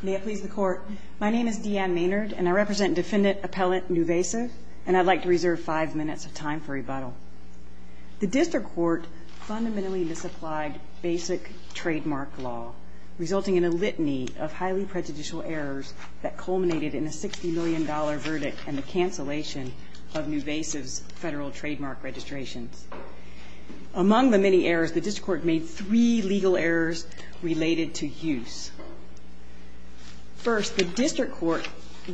My name is Deanne Maynard, and I represent Defendant Appellant Nuvasiv, and I'd like to reserve five minutes of time for rebuttal. The district court fundamentally misapplied basic trademark law, resulting in a litany of highly prejudicial errors that culminated in a $60 million verdict and the cancellation of Nuvasiv's federal trademark registrations. Among the many errors, the district court made three legal errors related to use. First, the district court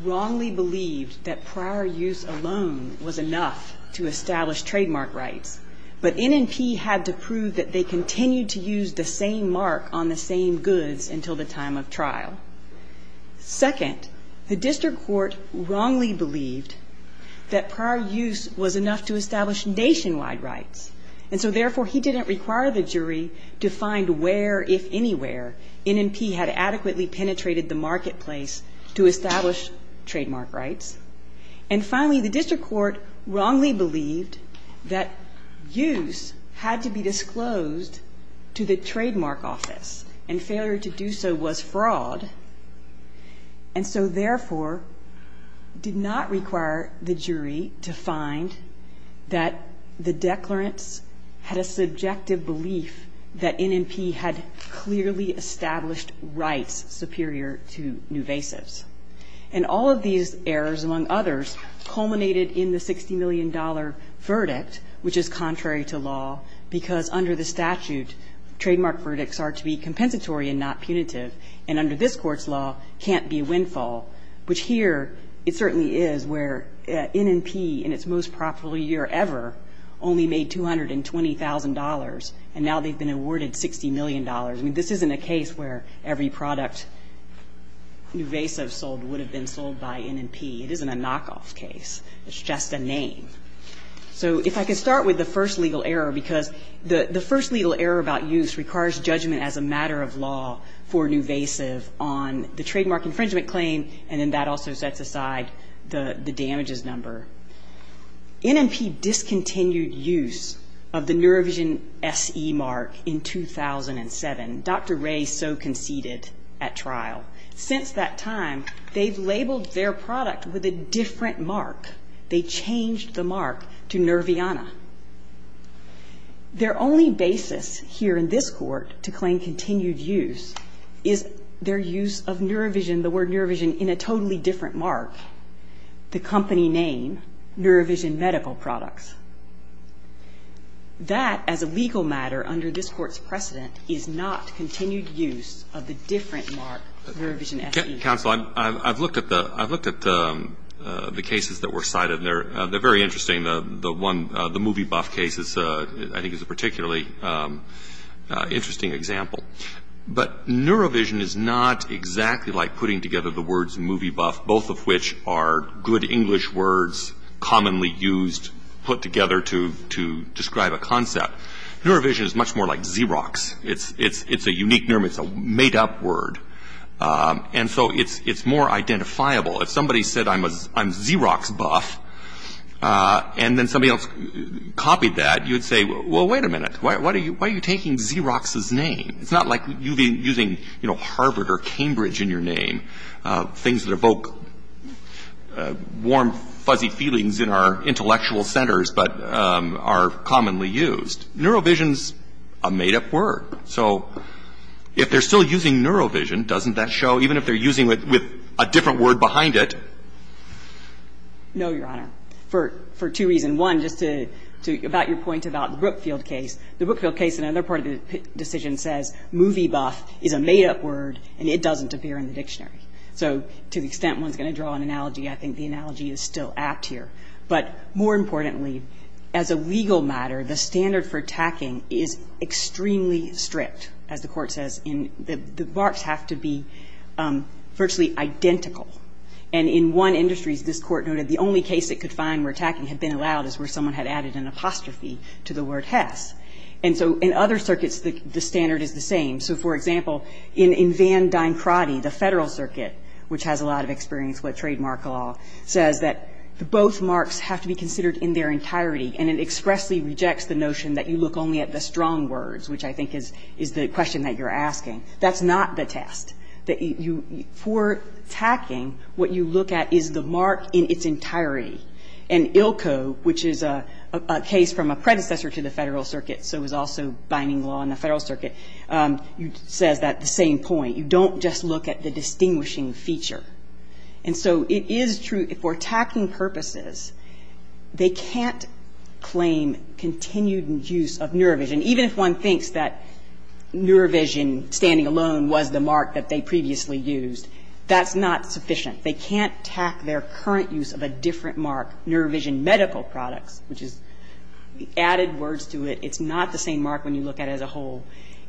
wrongly believed that prior use alone was enough to establish trademark rights, but NNP had to prove that they continued to use the same mark on the same goods until the time of trial. Second, the district court wrongly believed that prior use was enough to establish nationwide rights, and so therefore he didn't require the jury to find where, if anywhere, NNP had adequately penetrated the marketplace to establish trademark rights. And finally, the district court wrongly believed that use had to be disclosed to the trademark office, and failure to do so was fraud, and so therefore did not require the jury to find that the declarants had a subjective belief that NNP had clearly established rights superior to Nuvasiv's. And all of these errors, among others, culminated in the $60 million verdict, which is contrary to law, because under the statute, trademark verdicts are to be compensatory and not punitive, and under this Court's law can't be a windfall, which here it certainly is, where NNP, in its most profitable year ever, only made $220,000, and now they've been awarded $60 million. I mean, this isn't a case where every product Nuvasiv sold would have been sold by NNP. It isn't a knockoff case. It's just a name. So if I could start with the first legal error, because the first legal error about use requires judgment as a matter of law for Nuvasiv on the trademark infringement claim, and then that also sets aside the damages number. NNP discontinued use of the Neurovision SE mark in 2007. Dr. Ray so conceded at trial. Since that time, they've labeled their product with a different mark. They changed the mark to Nerviana. Their only basis here in this Court to claim continued use is their use of Neurovision, the word Neurovision, in a totally different mark, the company name, Neurovision Medical Products. That, as a legal matter under this Court's precedent, is not continued use of the different mark, Neurovision SE. Mr. Counsel, I've looked at the cases that were cited, and they're very interesting. The movie buff case, I think, is a particularly interesting example. But Neurovision is not exactly like putting together the words movie buff, both of which are good English words, commonly used, put together to describe a concept. Neurovision is much more like Xerox. It's a unique, it's a made-up word. And so it's more identifiable. If somebody said, I'm Xerox buff, and then somebody else copied that, you would say, well, wait a minute, why are you taking Xerox's name? It's not like you've been using, you know, Harvard or Cambridge in your name, things that evoke warm, fuzzy feelings in our intellectual centers but are commonly used. Neurovision's a made-up word. So if they're still using Neurovision, doesn't that show, even if they're using it with a different word behind it? No, Your Honor. For two reasons. One, just to, about your point about the Brookfield case, the Brookfield case, another part of the decision says movie buff is a made-up word, and it doesn't appear in the dictionary. So to the extent one's going to draw an analogy, I think the analogy is still apt here. But more importantly, as a legal matter, the standard for tacking is extremely strict, as the Court says. The marks have to be virtually identical. And in one industry, as this Court noted, the only case it could find where tacking had been allowed is where someone had added an apostrophe to the word has. And so in other circuits, the standard is the same. So, for example, in Van Dien-Krati, the Federal Circuit, which has a lot of experience with trademark law, says that both marks have to be considered in their entirety, and it expressly rejects the notion that you look only at the strong words, which I think is the question that you're asking. That's not the test. For tacking, what you look at is the mark in its entirety. And ILCO, which is a case from a predecessor to the Federal Circuit, so is also binding law in the Federal Circuit, says that at the same point. You don't just look at the distinguishing feature. And so it is true, for tacking purposes, they can't claim continued use of NeuroVision. Even if one thinks that NeuroVision, standing alone, was the mark that they previously used, that's not sufficient. They can't tack their current use of a different mark, NeuroVision Medical Products, which is added words to it. It's not the same mark when you look at it as a whole,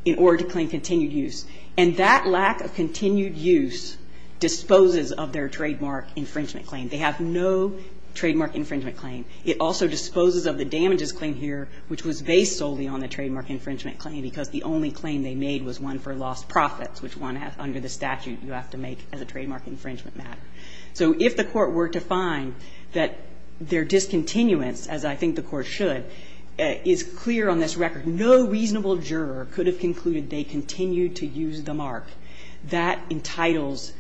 in order to claim continued use. And that lack of continued use disposes of their trademark infringement claim. They have no trademark infringement claim. It also disposes of the damages claim here, which was based solely on the trademark infringement claim, because the only claim they made was one for lost profits, which one, under the statute, you have to make as a trademark infringement matter. So if the Court were to find that their discontinuance, as I think the Court should, is clear on this record, no reasonable juror could have concluded they continued to use the mark. That entitles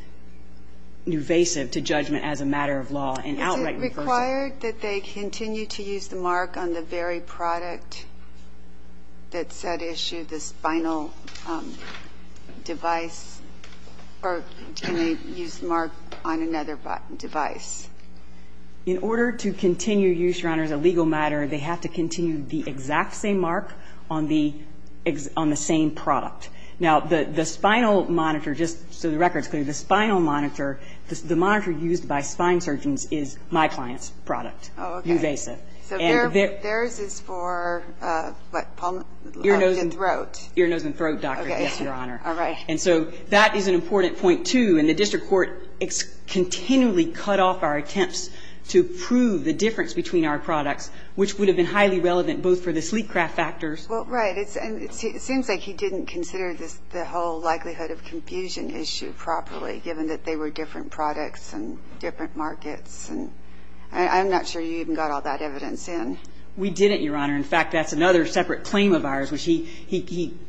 NeuroVision to judgment as a matter of law and outright reversal. Is it required that they continue to use the mark on the very product that's at issue, the spinal device, or can they use the mark on another device? In order to continue use, Your Honor, as a legal matter, they have to continue the exact same mark on the same product. Now, the spinal monitor, just so the record's clear, the spinal monitor, the monitor used by spine surgeons is my client's product. Oh, okay. Uvasive. So theirs is for, what, palm? Ear, nose and throat. Ear, nose and throat, Your Honor. Okay. All right. And so that is an important point, too, and the district court continually cut off our attempts to prove the difference between our products, which would have been highly relevant both for the sleep craft factors. Well, right. And it seems like he didn't consider the whole likelihood of confusion issue properly given that they were different products and different markets. And I'm not sure you even got all that evidence in. We didn't, Your Honor. In fact, that's another separate claim of ours, which he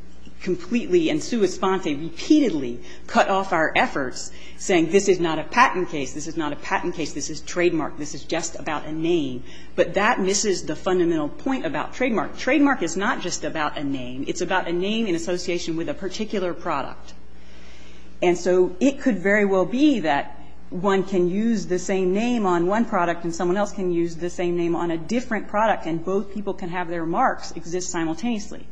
completely and sua sponte repeatedly cut off our efforts saying this is not a patent case, this is not a patent case, this is trademark, this is just about a name. But that misses the fundamental point about trademark. Trademark is not just about a name. It's about a name in association with a particular product. And so it could very well be that one can use the same name on one product and someone else can use the same name on a different product and both people can have their marks exist simultaneously.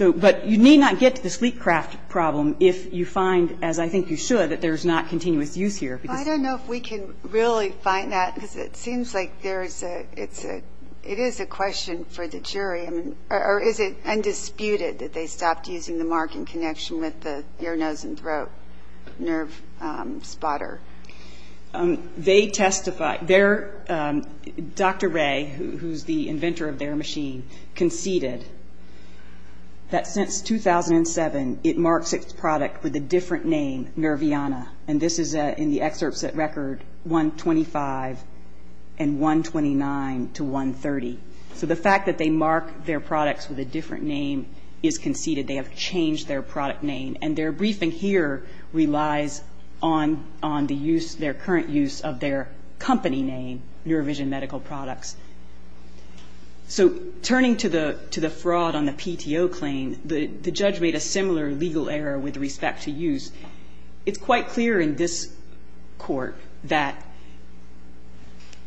But you need not get to the sleep craft problem if you find, as I think you should, that there's not continuous use here. I don't know if we can really find that because it seems like it is a question for the jury. Or is it undisputed that they stopped using the mark in connection with the ear, nose and throat nerve spotter? They testify. Dr. Ray, who's the inventor of their machine, conceded that since 2007 it marks its product with a different name, Nerviana. And this is in the excerpts at record 125 and 129 to 130. So the fact that they mark their products with a different name is conceded. They have changed their product name. And their briefing here relies on the use, their current use of their company name, Neurovision Medical Products. So turning to the fraud on the PTO claim, the judge made a similar legal error with respect to use. It's quite clear in this court that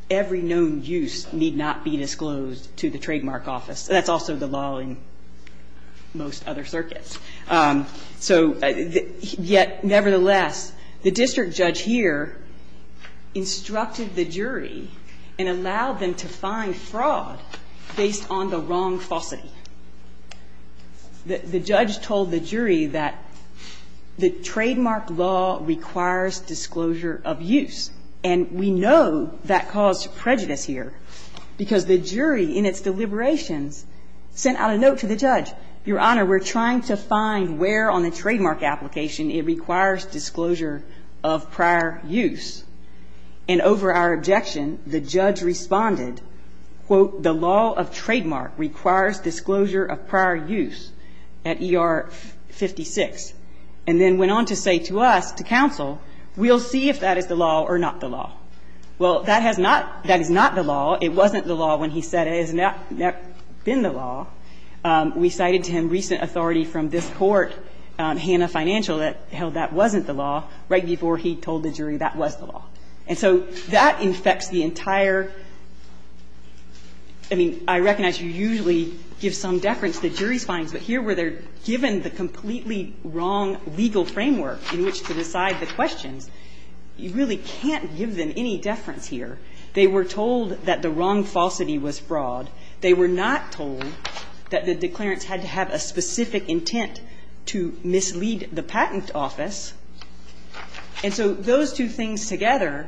every known use need not be disclosed to the trademark office. That's also the law in most other circuits. So yet, nevertheless, the district judge here instructed the jury and allowed them to find fraud based on the wrong falsity. The judge told the jury that the trademark law requires disclosure of use. And we know that caused prejudice here, because the jury in its deliberations sent out a note to the judge. Your Honor, we're trying to find where on the trademark application it requires disclosure of prior use. And over our objection, the judge responded, quote, the law of trademark requires disclosure of prior use at ER 56. And then went on to say to us, to counsel, we'll see if that is the law or not the law. Well, that has not, that is not the law. It wasn't the law when he said it. It has not been the law. We cited to him recent authority from this court, Hanna Financial, that held that wasn't the law right before he told the jury that was the law. And so that infects the entire – I mean, I recognize you usually give some deference to jury's findings, but here where they're given the completely wrong legal framework in which to decide the questions, you really can't give them any deference here. They were told that the wrong falsity was fraud. They were not told that the declarants had to have a specific intent to mislead the patent office. And so those two things together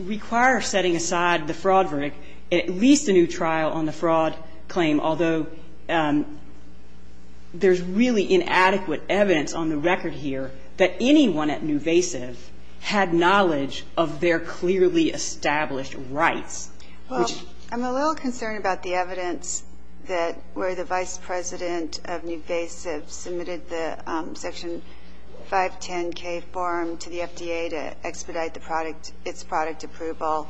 require setting aside the fraud verdict, at least a new trial on the fraud claim, although there's really inadequate evidence on the record here that anyone at Nuvasiv had knowledge of their clearly established rights. Well, I'm a little concerned about the evidence that where the vice president of Nuvasiv submitted the Section 510K form to the FDA to expedite the product, its product approval,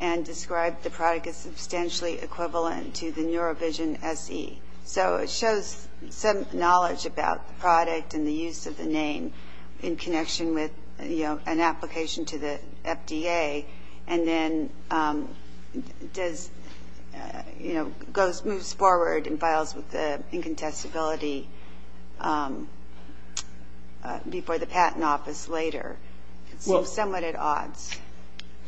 and described the product as substantially equivalent to the NeuroVision SE. So it shows some knowledge about the product and the use of the name in connection with an application to the FDA. And then moves forward and files with the incontestability before the patent office later. It seems somewhat at odds.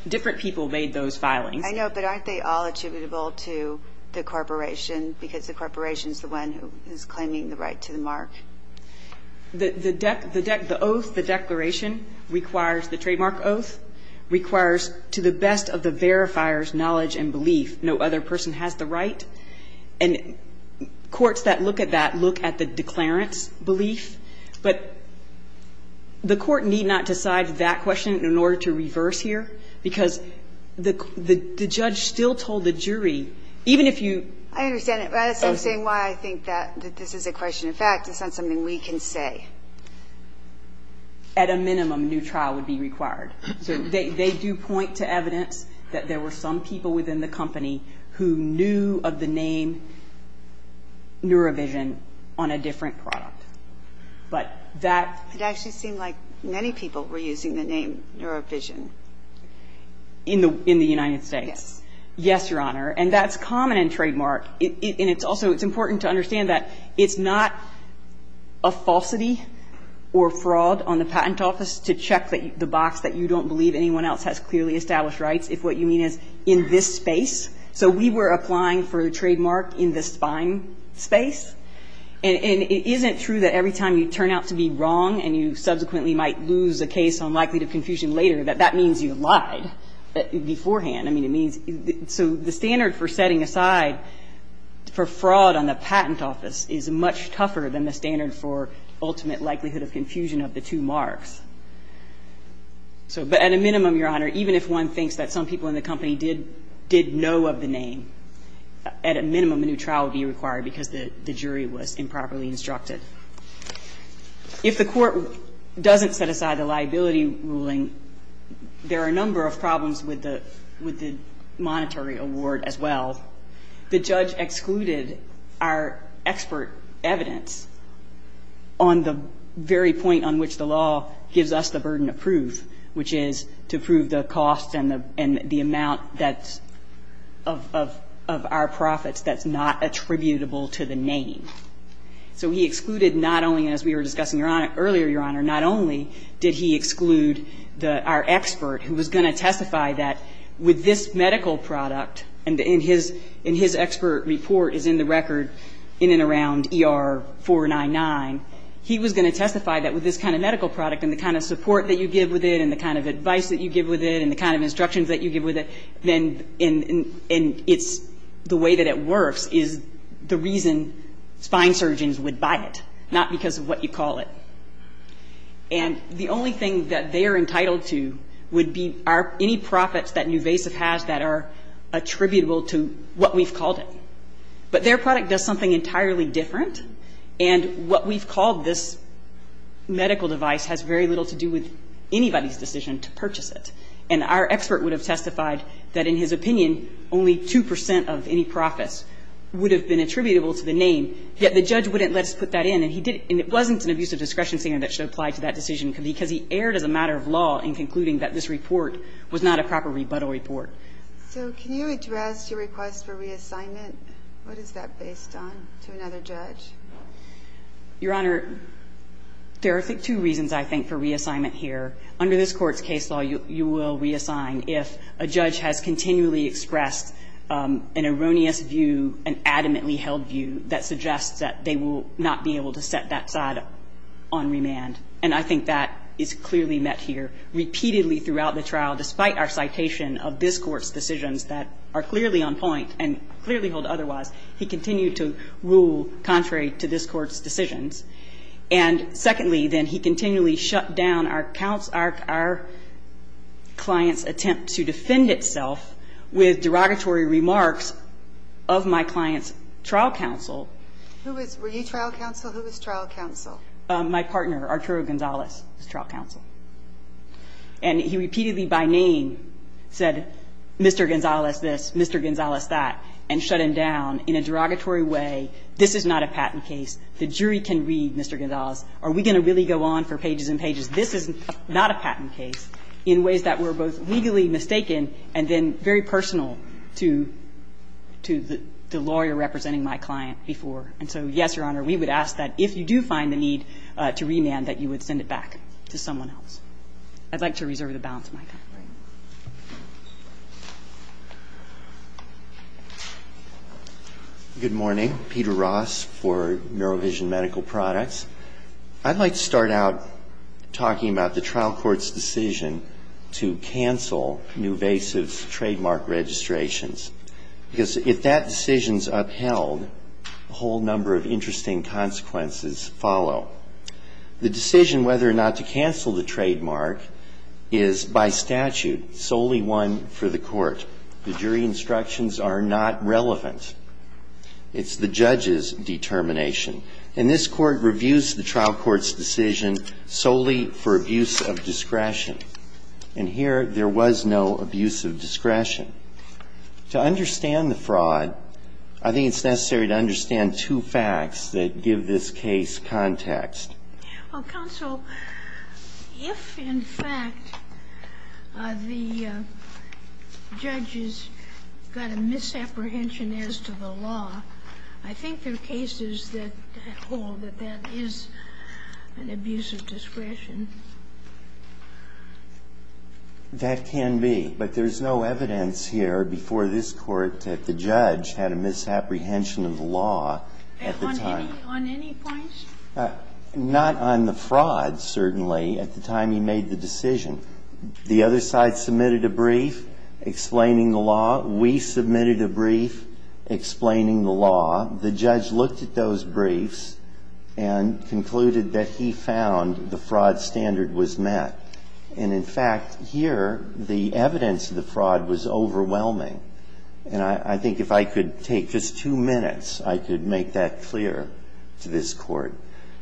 Different people made those filings. I know, but aren't they all attributable to the corporation because the corporation is the one who is claiming the right to the mark? The oath, the declaration, requires the trademark oath, requires to the best of the verifier's knowledge and belief, no other person has the right. And courts that look at that look at the declarant's belief. But the court need not decide that question in order to reverse here, because the judge still told the jury, even if you ---- I understand it. I understand why I think that this is a question of fact. It's not something we can say. At a minimum, new trial would be required. So they do point to evidence that there were some people within the company who knew of the name NeuroVision on a different product. But that ---- It actually seemed like many people were using the name NeuroVision. In the United States? Yes. Yes, Your Honor. And that's common in trademark. And it's also ---- it's important to understand that it's not a falsity or fraud on the patent office to check the box that you don't believe anyone else has clearly established rights if what you mean is in this space. So we were applying for a trademark in this fine space. And it isn't true that every time you turn out to be wrong and you subsequently might lose a case on likelihood of confusion later, that that means you lied beforehand. I mean, it means ---- so the standard for setting aside for fraud on the patent office is much tougher than the standard for ultimate likelihood of confusion of the two marks. So at a minimum, Your Honor, even if one thinks that some people in the company did know of the name, at a minimum, a new trial would be required because the jury was improperly instructed. If the Court doesn't set aside a liability ruling, there are a number of problems with the monetary award as well. The judge excluded our expert evidence on the very point on which the law gives us the burden of proof, which is to prove the cost and the amount that's ---- of our profits that's not attributable to the name. So he excluded not only, as we were discussing earlier, Your Honor, not only did he testify that with this medical product, and in his expert report is in the record in and around ER 499, he was going to testify that with this kind of medical product and the kind of support that you give with it and the kind of advice that you give with it and the kind of instructions that you give with it, then it's the way that it works is the reason fine surgeons would buy it, not because of what you call it. And the only thing that they are entitled to would be any profits that Nuvasiv has that are attributable to what we've called it. But their product does something entirely different, and what we've called this medical device has very little to do with anybody's decision to purchase it. And our expert would have testified that in his opinion only 2 percent of any profits would have been attributable to the name, yet the judge wouldn't let us put that in. And it wasn't an abusive discretion standard that should apply to that decision because he erred as a matter of law in concluding that this report was not a proper rebuttal report. So can you address your request for reassignment? What is that based on to another judge? Your Honor, there are two reasons, I think, for reassignment here. Under this Court's case law, you will reassign if a judge has continually expressed an erroneous view, an adamantly held view, that suggests that they will not be able to set that side on remand. And I think that is clearly met here. Repeatedly throughout the trial, despite our citation of this Court's decisions that are clearly on point and clearly hold otherwise, he continued to rule contrary to this Court's decisions. And secondly, then, he continually shut down our client's attempt to defend itself with derogatory remarks of my client's trial counsel. Were you trial counsel? Who was trial counsel? My partner, Arturo Gonzalez, was trial counsel. And he repeatedly by name said, Mr. Gonzalez this, Mr. Gonzalez that, and shut him down in a derogatory way. This is not a patent case. The jury can read, Mr. Gonzalez. Are we going to really go on for pages and pages? This is not a patent case in ways that were both legally mistaken and then very personal to the lawyer representing my client before. And so, yes, Your Honor, we would ask that if you do find the need to remand, that you would send it back to someone else. I'd like to reserve the balance of my time. Good morning. Peter Ross for NeuroVision Medical Products. I'd like to start out talking about the trial court's decision to cancel Nuvasiv's trademark registrations. Because if that decision is upheld, a whole number of interesting consequences follow. The decision whether or not to cancel the trademark is by statute solely one for the court. The jury instructions are not relevant. It's the judge's determination. And this Court reviews the trial court's decision solely for abuse of discretion. And here, there was no abuse of discretion. To understand the fraud, I think it's necessary to understand two facts that give this case context. Well, counsel, if, in fact, the judge has got a misapprehension as to the law, I think there are cases that hold that that is an abuse of discretion. That can be. But there is no evidence here before this Court that the judge had a misapprehension of the law at the time. On any points? Not on the fraud, certainly, at the time he made the decision. The other side submitted a brief explaining the law. We submitted a brief explaining the law. The judge looked at those briefs and concluded that he found the fraud standard was met. And, in fact, here, the evidence of the fraud was overwhelming. And I think if I could take just two minutes, I could make that clear to this Court.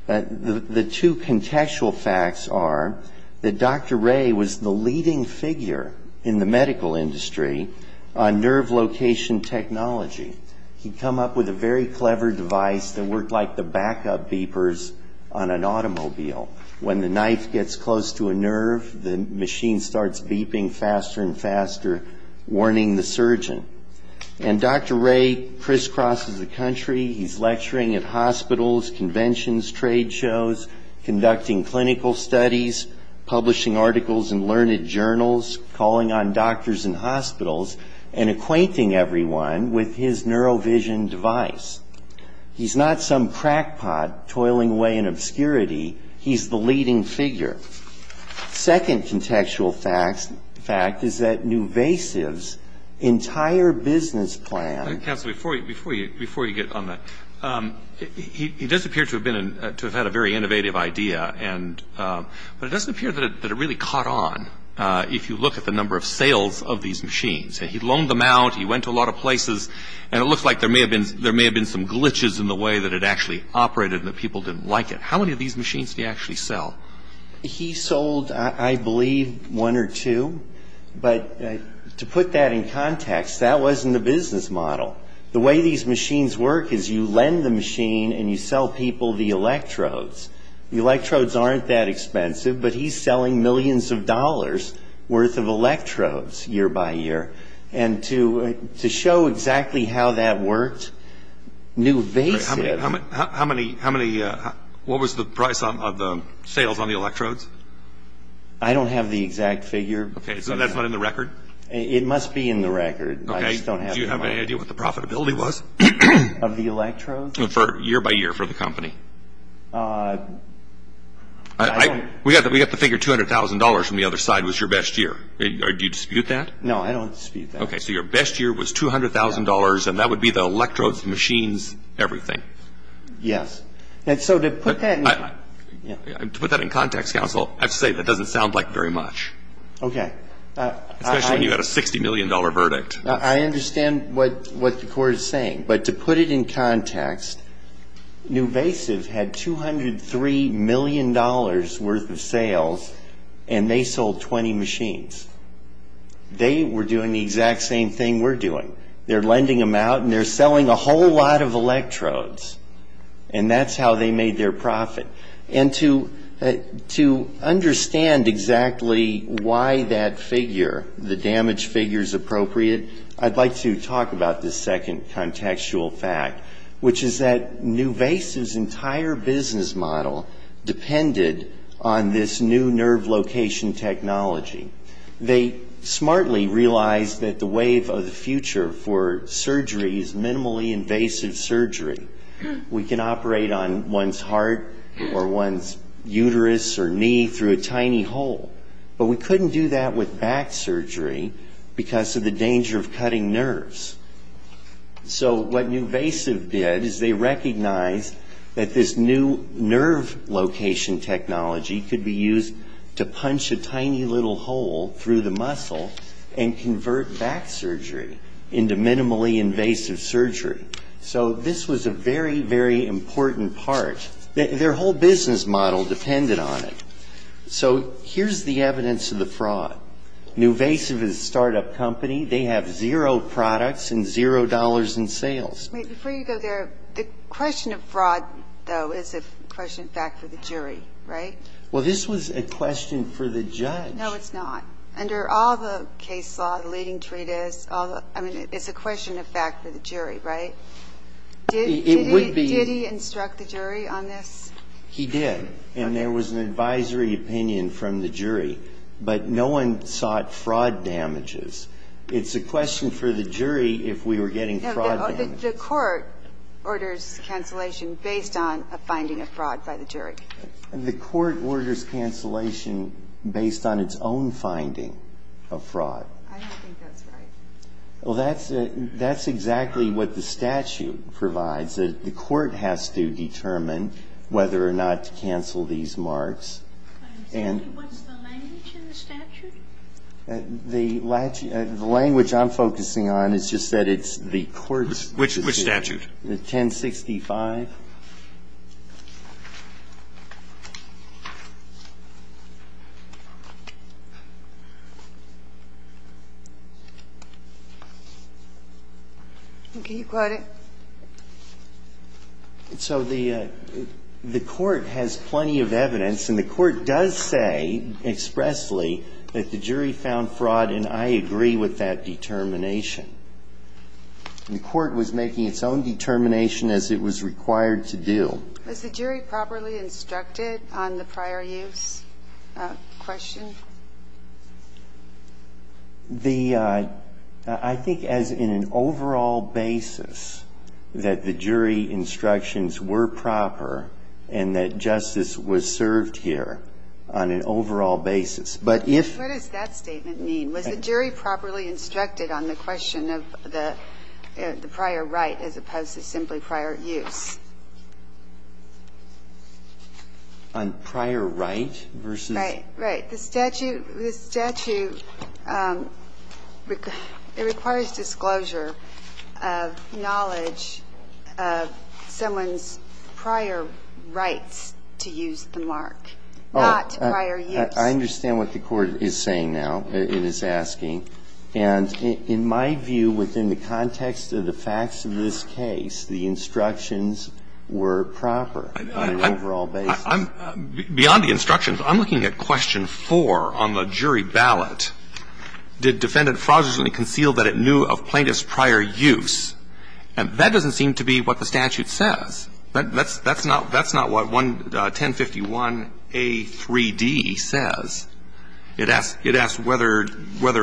The two contextual facts are that Dr. Ray was the leading figure in the medical industry on nerve location technology. He'd come up with a very clever device that worked like the backup beepers on an automobile. When the knife gets close to a nerve, the machine starts beeping faster and faster, warning the surgeon. And Dr. Ray crisscrosses the country. He's lecturing at hospitals, conventions, trade shows, conducting clinical studies, publishing articles in learned journals, calling on doctors in hospitals, and acquainting everyone with his neurovision device. He's not some crackpot toiling away in obscurity. He's the leading figure. Second contextual fact is that Nuvasiv's entire business plan. Roberts. Counsel, before you get on that, he does appear to have had a very innovative idea, but it doesn't appear that it really caught on if you look at the number of sales of these machines. He loaned them out. He went to a lot of places. And it looks like there may have been some glitches in the way that it actually operated and that people didn't like it. How many of these machines did he actually sell? He sold, I believe, one or two. But to put that in context, that wasn't the business model. The way these machines work is you lend the machine and you sell people the electrodes. The electrodes aren't that expensive, but he's selling millions of dollars' worth of To show exactly how that worked, Nuvasiv. What was the price of the sales on the electrodes? I don't have the exact figure. So that's not in the record? It must be in the record. Do you have any idea what the profitability was? Of the electrodes? Year by year for the company. We got the figure $200,000 from the other side was your best year. Do you dispute that? No, I don't dispute that. Okay, so your best year was $200,000 and that would be the electrodes, machines, everything. Yes. To put that in context, counsel, I have to say that doesn't sound like very much. Okay. Especially when you've got a $60 million verdict. I understand what the court is saying. But to put it in context, Nuvasiv had $203 million worth of sales and they sold 20 machines. They were doing the exact same thing we're doing. They're lending them out and they're selling a whole lot of electrodes. And that's how they made their profit. And to understand exactly why that figure, the damage figure, is appropriate, I'd like to talk about this second contextual fact, which is that Nuvasiv's entire business model depended on this new nerve location technology. They smartly realized that the wave of the future for surgery is minimally invasive surgery. We can operate on one's heart or one's uterus or knee through a tiny hole. But we couldn't do that with back surgery because of the danger of cutting nerves. So what Nuvasiv did is they recognized that this new nerve location technology could be used to punch a tiny little hole through the muscle and convert back surgery into minimally invasive surgery. So this was a very, very important part. Their whole business model depended on it. So here's the evidence of the fraud. Nuvasiv is a startup company. They have zero products and zero dollars in sales. Before you go there, the question of fraud, though, is a question in fact for the jury, right? Well, this was a question for the judge. No, it's not. Under all the case law, the leading treatise, it's a question in fact for the jury, right? It would be. Did he instruct the jury on this? He did. And there was an advisory opinion from the jury. But no one sought fraud damages. It's a question for the jury if we were getting fraud damages. The court orders cancellation based on a finding of fraud by the jury. The court orders cancellation based on its own finding of fraud. I don't think that's right. Well, that's exactly what the statute provides. The court has to determine whether or not to cancel these marks. What's the language in the statute? The language I'm focusing on is just that it's the court's statute. Which statute? The 1065. Can you quote it? So the court has plenty of evidence, and the court does say expressly that the jury found fraud, and I agree with that determination. The court was making its own determination as it was required to do. Was the jury properly instructed on the prior use question? The – I think as in an overall basis that the jury instructions were proper and that justice was served here on an overall basis. But if – What does that statement mean? Was the jury properly instructed on the question of the prior right as opposed to simply prior use? On prior right versus – Right, right. The statute – the statute, it requires disclosure of knowledge of someone's prior rights to use the mark, not prior use. I understand what the court is saying now, it is asking. And in my view, within the context of the facts of this case, the instructions were proper on an overall basis. Beyond the instructions, I'm looking at question four on the jury ballot. Did defendant fraudulently conceal that it knew of plaintiff's prior use? That doesn't seem to be what the statute says. That's not what 1051a3d says. It asks whether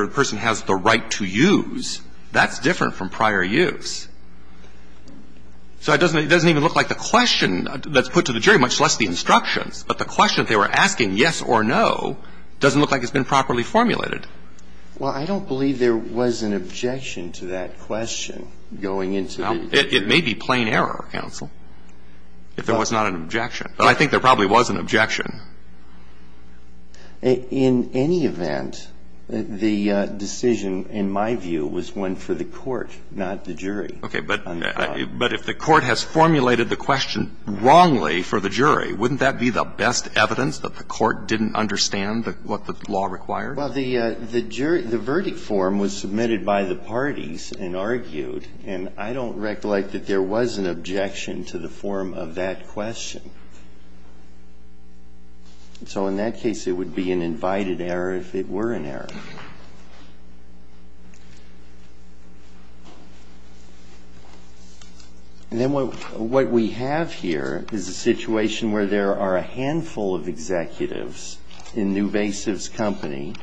a person has the right to use. That's different from prior use. So it doesn't even look like the question that's put to the jury, much less the instructions, but the question they were asking, yes or no, doesn't look like it's been properly formulated. Well, I don't believe there was an objection to that question going into the jury. Well, it may be plain error, counsel, if there was not an objection. But I think there probably was an objection. In any event, the decision, in my view, was one for the court, not the jury. Okay. But if the court has formulated the question wrongly for the jury, wouldn't that be the best evidence that the court didn't understand what the law required? Well, the jury, the verdict form was submitted by the parties and argued. And I don't recollect that there was an objection to the form of that question. So in that case, it would be an invited error if it were an error. And then what we have here is a situation where there are a handful of executives in Nuvasiv's company.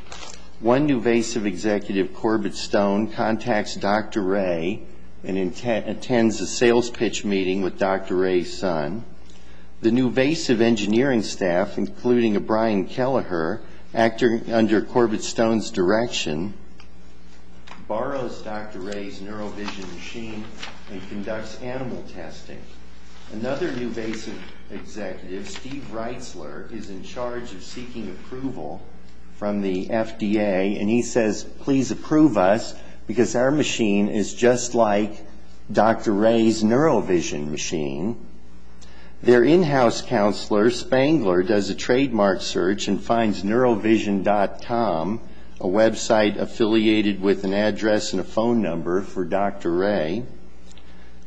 One Nuvasiv executive, Corbett Stone, contacts Dr. Ray and attends a sales pitch meeting with Dr. Ray's son. The Nuvasiv engineering staff, including O'Brien Kelleher, acting under Corbett Stone's direction, borrows Dr. Ray's neurovision machine and conducts animal testing. Another Nuvasiv executive, Steve Reitzler, is in charge of seeking approval from the FDA. And he says, please approve us because our machine is just like Dr. Ray's neurovision machine. Their in-house counselor, Spangler, does a trademark search and finds neurovision.com, a website affiliated with an address and a phone number for Dr. Ray.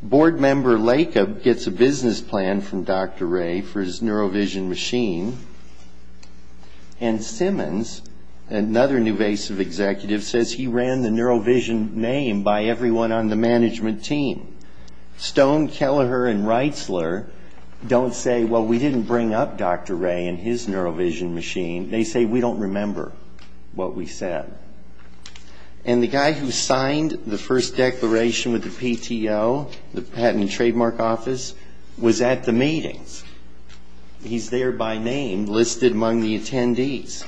Board member Lakob gets a business plan from Dr. Ray for his neurovision machine. And Simmons, another Nuvasiv executive, says he ran the neurovision name by everyone on the management team. Stone, Kelleher, and Reitzler don't say, well, we didn't bring up Dr. Ray and his neurovision machine. They say, we don't remember what we said. And the guy who signed the first declaration with the PTO, the Patent and Trademark Office, was at the meetings. He's there by name listed among the attendees.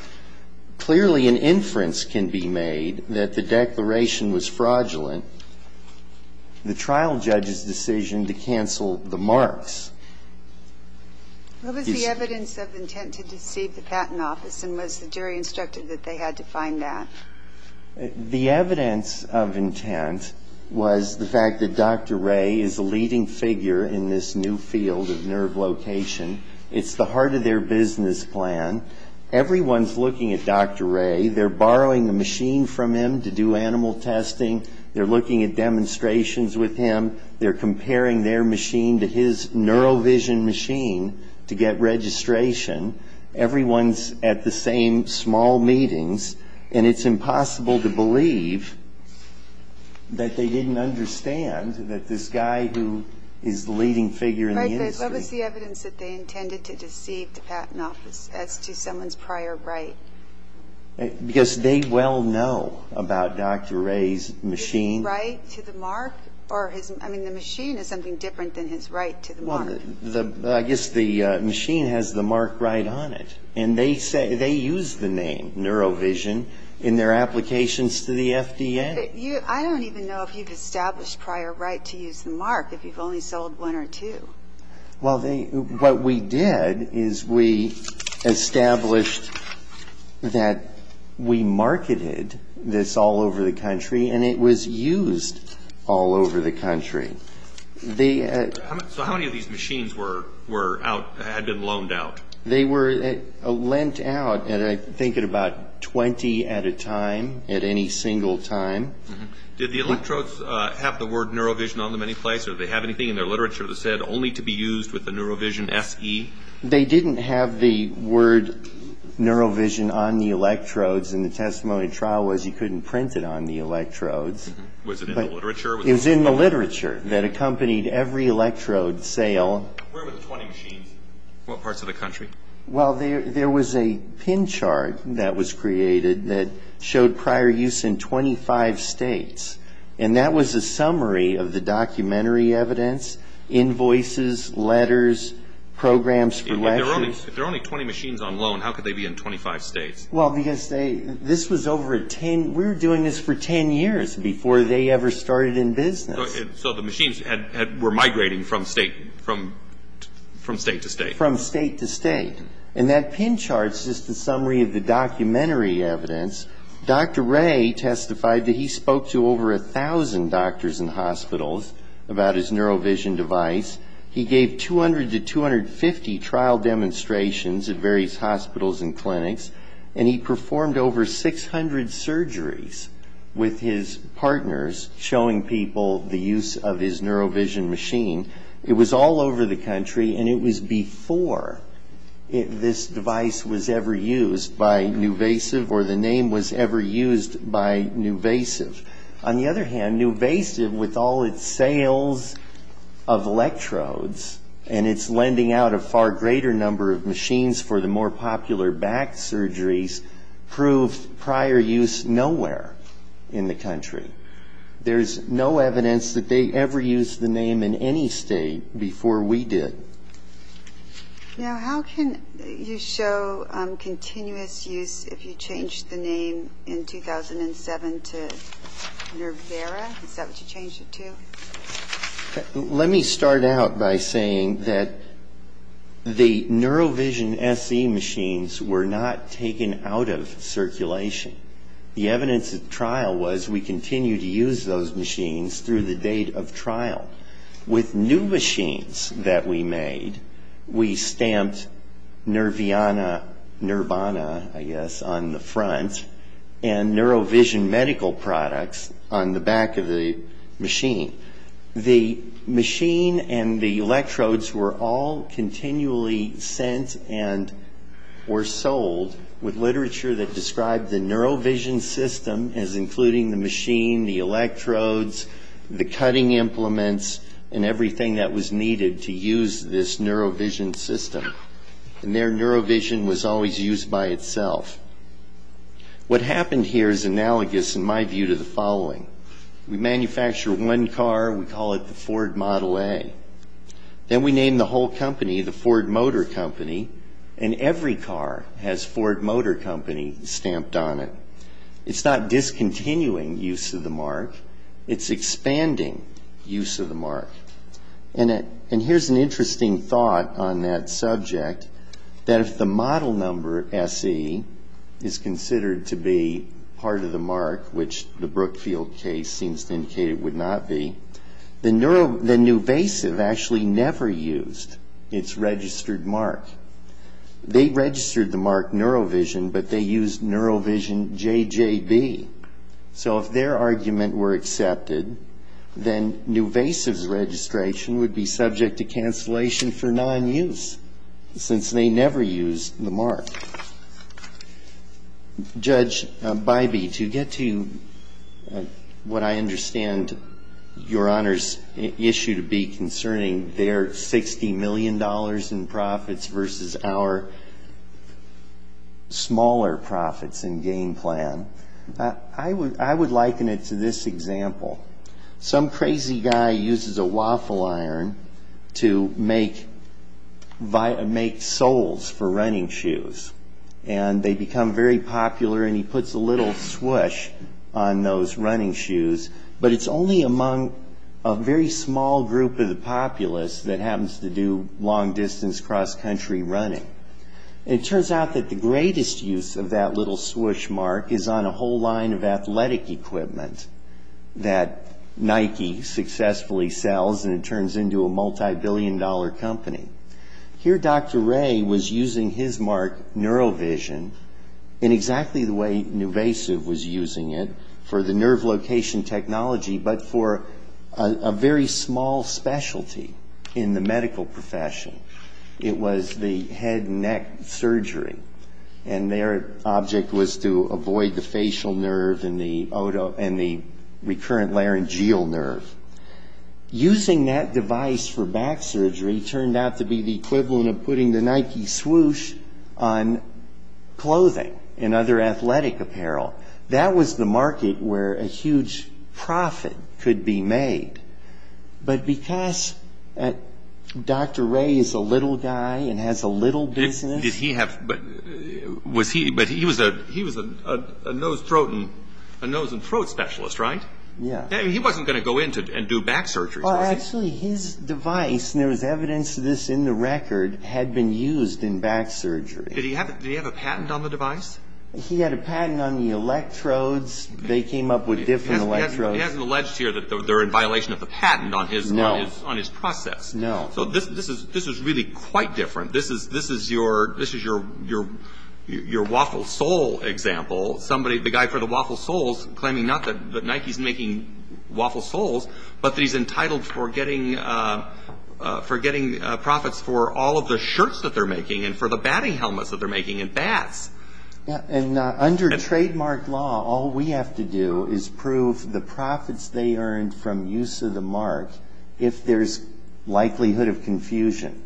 Clearly an inference can be made that the declaration was fraudulent. The trial judge's decision to cancel the marks is the evidence of intent to deceive the Patent Office. And was the jury instructed that they had to find that? The evidence of intent was the fact that Dr. Ray is a leading figure in this new field of nerve location. It's the heart of their business plan. Everyone's looking at Dr. Ray. They're borrowing a machine from him to do animal testing. They're looking at demonstrations with him. They're comparing their machine to his neurovision machine to get registration. Everyone's at the same small meetings. And it's impossible to believe that they didn't understand that this guy who is the leading figure in the industry. What was the evidence that they intended to deceive the Patent Office as to someone's prior right? Because they well know about Dr. Ray's machine. His right to the mark? I mean, the machine is something different than his right to the mark. Well, I guess the machine has the mark right on it. And they use the name neurovision in their applications to the FDA. I don't even know if you've established prior right to use the mark if you've only sold one or two. Well, what we did is we established that we marketed this all over the country. And it was used all over the country. So how many of these machines were out, had been loaned out? They were lent out, I think, at about 20 at a time, at any single time. Did the electrodes have the word neurovision on them any place? Or did they have anything in their literature that said only to be used with the neurovision SE? They didn't have the word neurovision on the electrodes. And the testimony trial was you couldn't print it on the electrodes. Was it in the literature? It was in the literature that accompanied every electrode sale. Where were the 20 machines? What parts of the country? Well, there was a pin chart that was created that showed prior use in 25 states. And that was a summary of the documentary evidence, invoices, letters, programs for lectures. If there are only 20 machines on loan, how could they be in 25 states? Well, because this was over a 10, we were doing this for 10 years before they ever started in business. So the machines were migrating from state to state. From state to state. And that pin chart is just a summary of the documentary evidence. Dr. Ray testified that he spoke to over 1,000 doctors and hospitals about his neurovision device. He gave 200 to 250 trial demonstrations at various hospitals and clinics. And he performed over 600 surgeries with his partners, showing people the use of his neurovision machine. It was all over the country, and it was before this device was ever used by Nuvasive or the name was ever used by Nuvasiv. On the other hand, Nuvasiv, with all its sales of electrodes and its lending out a far greater number of machines for the more popular back surgeries, proved prior use nowhere in the country. There's no evidence that they ever used the name in any state before we did. Now, how can you show continuous use if you changed the name in 2007 to Nervara? Is that what you changed it to? Let me start out by saying that the neurovision SE machines were not taken out of circulation. The evidence at trial was we continued to use those machines through the date of trial. With new machines that we made, we stamped Nervana, I guess, on the front, and neurovision medical products on the back of the machine. The machine and the electrodes were all continually sent and were sold with literature that described the neurovision system as including the machine, the electrodes, the cutting implements, and everything that was needed to use this neurovision system. And their neurovision was always used by itself. What happened here is analogous, in my view, to the following. We manufacture one car, we call it the Ford Model A. Then we name the whole company the Ford Motor Company, and every car has Ford Motor Company stamped on it. It's not discontinuing use of the mark. It's expanding use of the mark. And here's an interesting thought on that subject, that if the model number SE is considered to be part of the mark, which the Brookfield case seems to indicate it would not be, then Nuvasiv actually never used its registered mark. They registered the mark neurovision, but they used neurovision JJB. So if their argument were accepted, then Nuvasiv's registration would be subject to cancellation for non-use, since they never used the mark. Judge Bybee, to get to what I understand your Honor's issue to be concerning, their $60 million in profits versus our smaller profits and gain plan, I would liken it to this example. Some crazy guy uses a waffle iron to make soles for running shoes, and they become very popular, and he puts a little swoosh on those running shoes. But it's only among a very small group of the populace that happens to do long-distance cross-country running. It turns out that the greatest use of that little swoosh mark is on a whole line of athletic equipment that Nike successfully sells, and it turns into a multibillion-dollar company. Here Dr. Ray was using his mark, neurovision, in exactly the way Nuvasiv was using it for the nerve location technology, but for a very small specialty in the medical profession. It was the head and neck surgery, and their object was to avoid the facial nerve and the recurrent laryngeal nerve. Using that device for back surgery turned out to be the equivalent of putting the Nike swoosh on clothing and other athletic apparel. That was the market where a huge profit could be made. But because Dr. Ray is a little guy and has a little business he was a nose and throat specialist, right? Yeah. He wasn't going to go in and do back surgery, was he? Actually, his device, and there was evidence of this in the record, had been used in back surgery. Did he have a patent on the device? He had a patent on the electrodes. They came up with different electrodes. He hasn't alleged here that they're in violation of the patent on his process. No. So this is really quite different. This is your Waffle Soul example. The guy for the Waffle Souls claiming not that Nike's making Waffle Souls, but that he's entitled for getting profits for all of the shirts that they're making and for the batting helmets that they're making and bats. Under trademark law, all we have to do is prove the profits they earned from use of the mark if there's likelihood of confusion.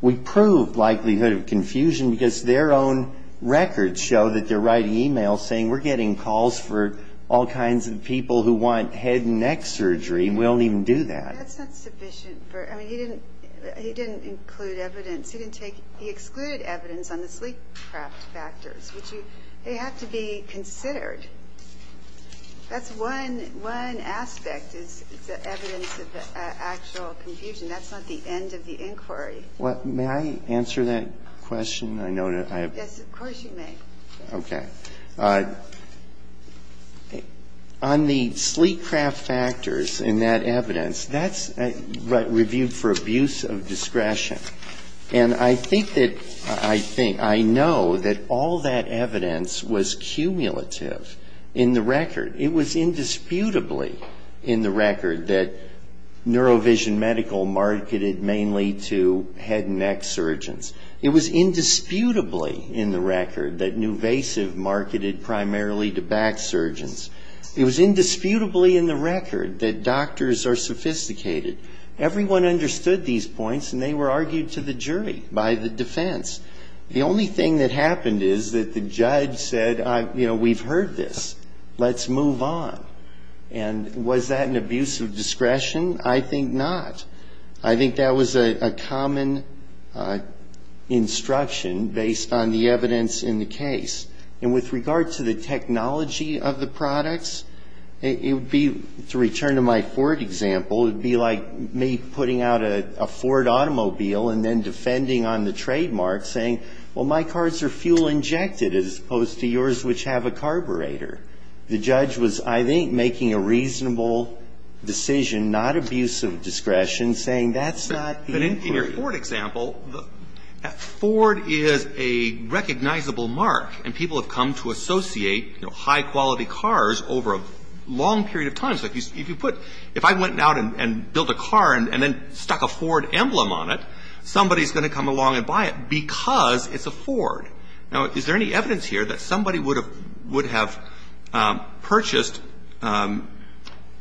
We proved likelihood of confusion because their own records show that they're writing e-mails saying we're getting calls for all kinds of people who want head and neck surgery, and we don't even do that. That's not sufficient. I mean, he didn't include evidence. He excluded evidence on the sleep craft factors, which they have to be considered. That's one aspect is the evidence of the actual confusion. That's not the end of the inquiry. May I answer that question? Yes, of course you may. Okay. On the sleep craft factors and that evidence, that's reviewed for abuse of discretion. And I think that I know that all that evidence was cumulative in the record. It was indisputably in the record that Neurovision Medical marketed mainly to head and neck surgeons. It was indisputably in the record that Nuvasiv marketed primarily to back surgeons. It was indisputably in the record that doctors are sophisticated. Everyone understood these points, and they were argued to the jury by the defense. The only thing that happened is that the judge said, you know, we've heard this. Let's move on. And was that an abuse of discretion? I think not. I think that was a common instruction based on the evidence in the case. And with regard to the technology of the products, it would be, to return to my Ford example, it would be like me putting out a Ford automobile and then defending on the trademark, saying, well, my cars are fuel-injected as opposed to yours, which have a carburetor. The judge was, I think, making a reasonable decision, not abuse of discretion, saying that's not the inquiry. But in your Ford example, Ford is a recognizable mark, and people have come to associate, you know, high-quality cars over a long period of time. So if you put, if I went out and built a car and then stuck a Ford emblem on it, somebody's going to come along and buy it because it's a Ford. Now, is there any evidence here that somebody would have purchased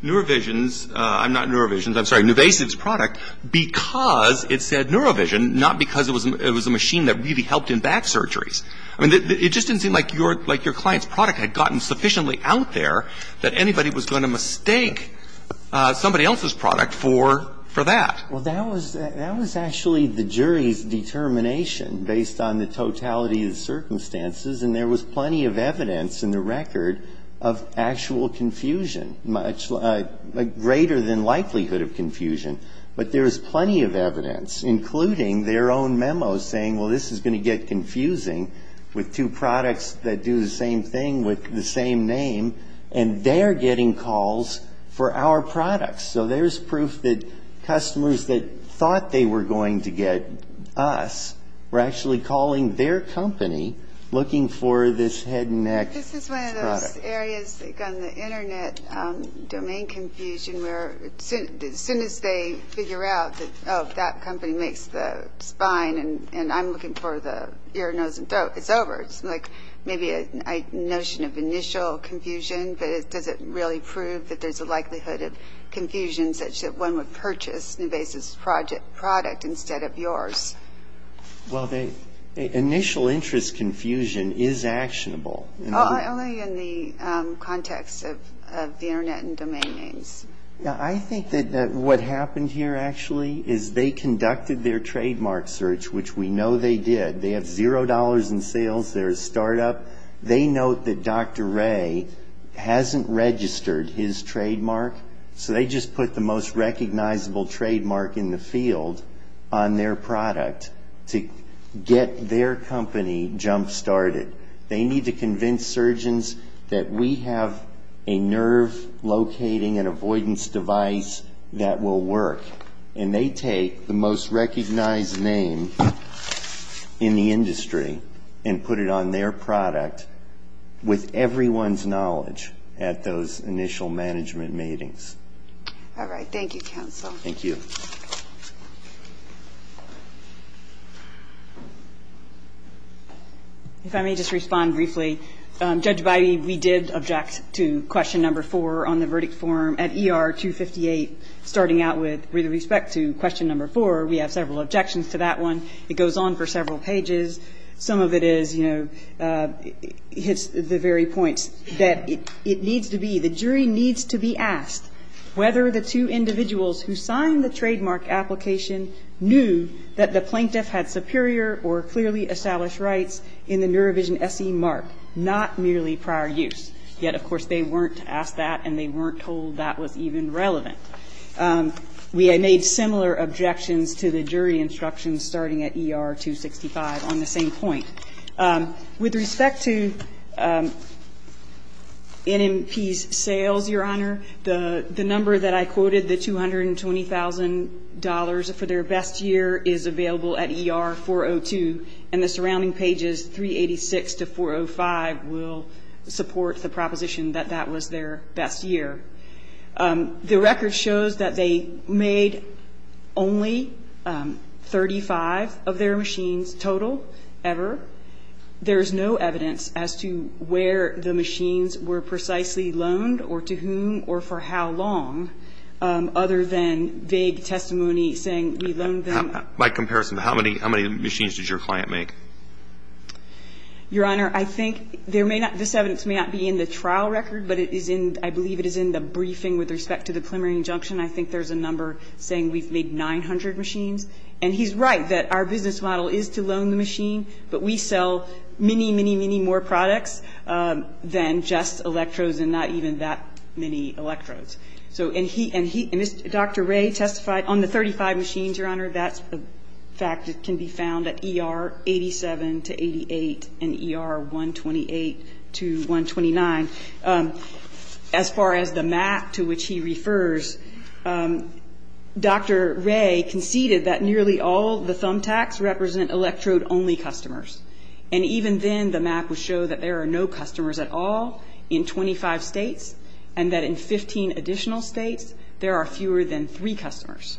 NeuroVision's – I'm not NeuroVision's, I'm sorry, Nuvasiv's product because it said NeuroVision, not because it was a machine that really helped in back surgeries? I mean, it just didn't seem like your client's product had gotten sufficiently out there that anybody was going to mistake somebody else's product for that. Well, that was actually the jury's determination based on the totality of the circumstances, and there was plenty of evidence in the record of actual confusion, much greater than likelihood of confusion. But there was plenty of evidence, including their own memo saying, well, this is going to get confusing with two products that do the same thing with the same name, and they're getting calls for our products. So there's proof that customers that thought they were going to get us were actually calling their company looking for this head and neck product. This is one of those areas, like on the Internet, domain confusion, where as soon as they figure out that, oh, that company makes the spine and I'm looking for the ear, nose, and throat, it's over. It's like maybe a notion of initial confusion, but does it really prove that there's a likelihood of confusion such that one would purchase an invasive product instead of yours? Well, initial interest confusion is actionable. Only in the context of the Internet and domain names. I think that what happened here, actually, is they conducted their trademark search, which we know they did. They have zero dollars in sales. They're a startup. They note that Dr. Ray hasn't registered his trademark, so they just put the most recognizable trademark in the field on their product to get their company jump-started. They need to convince surgeons that we have a nerve-locating and avoidance device that will work, and they take the most recognized name in the industry and put it on their product with everyone's knowledge at those initial management meetings. All right. Thank you, counsel. Thank you. If I may just respond briefly. Judge Bidey, we did object to question number four on the verdict form at ER 258. Starting out with respect to question number four, we have several objections to that one. It goes on for several pages. Some of it is, you know, hits the very point that it needs to be, the jury needs to be asked whether the two individuals who signed the trademark application knew that the plaintiff had superior or clearly established rights in the NeuroVision SE mark, not merely prior use. Yet, of course, they weren't asked that, and they weren't told that was even relevant. We made similar objections to the jury instructions starting at ER 265 on the same point. With respect to NMP's sales, Your Honor, the number that I quoted, the $220,000 for their best year is available at ER 402, and the surrounding pages 386 to 405 will support the proposition that that was their best year. The record shows that they made only 35 of their machines total ever. There is no evidence as to where the machines were precisely loaned or to whom or for how long, other than vague testimony saying we loaned them. By comparison, how many machines did your client make? Your Honor, I think there may not be, this evidence may not be in the trial record, but it is in, I believe it is in the briefing with respect to the preliminary injunction. I think there's a number saying we've made 900 machines. And he's right that our business model is to loan the machine, but we sell many, many, many more products than just electrodes and not even that many electrodes. And Dr. Ray testified on the 35 machines, Your Honor. That's a fact that can be found at ER 87 to 88 and ER 128 to 129. As far as the map to which he refers, Dr. Ray conceded that nearly all the thumb tacks represent electrode-only customers. And even then, the map would show that there are no customers at all in 25 states and that in 15 additional states, there are fewer than three customers.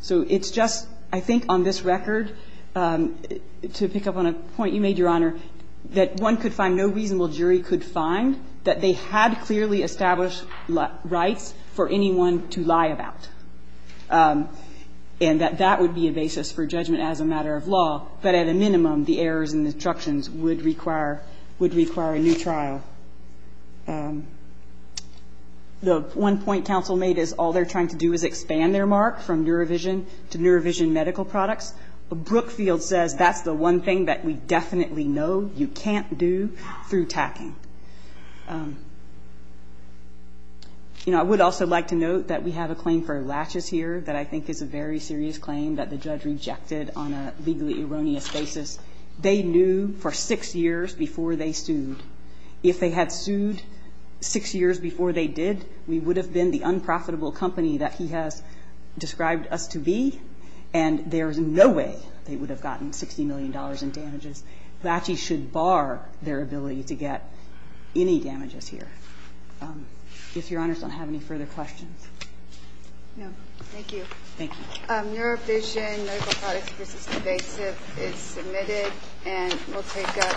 So it's just, I think on this record, to pick up on a point you made, Your Honor, that one could find, no reasonable jury could find that they had clearly established rights for anyone to lie about. And that that would be a basis for judgment as a matter of law, but at a minimum, the errors and obstructions would require a new trial. The one point counsel made is all they're trying to do is expand their mark from NeuroVision to NeuroVision medical products. Brookfield says that's the one thing that we definitely know you can't do through tacking. You know, I would also like to note that we have a claim for latches here that I think is a very serious claim that the judge rejected on a legally erroneous basis. They knew for six years before they sued. If they had sued six years before they did, we would have been the unprofitable company that he has described us to be. And there's no way they would have gotten $60 million in damages. Latches should bar their ability to get any damages here. If Your Honor doesn't have any further questions. No. Thank you. Thank you. NeuroVision medical products versus invasive is submitted and will take up.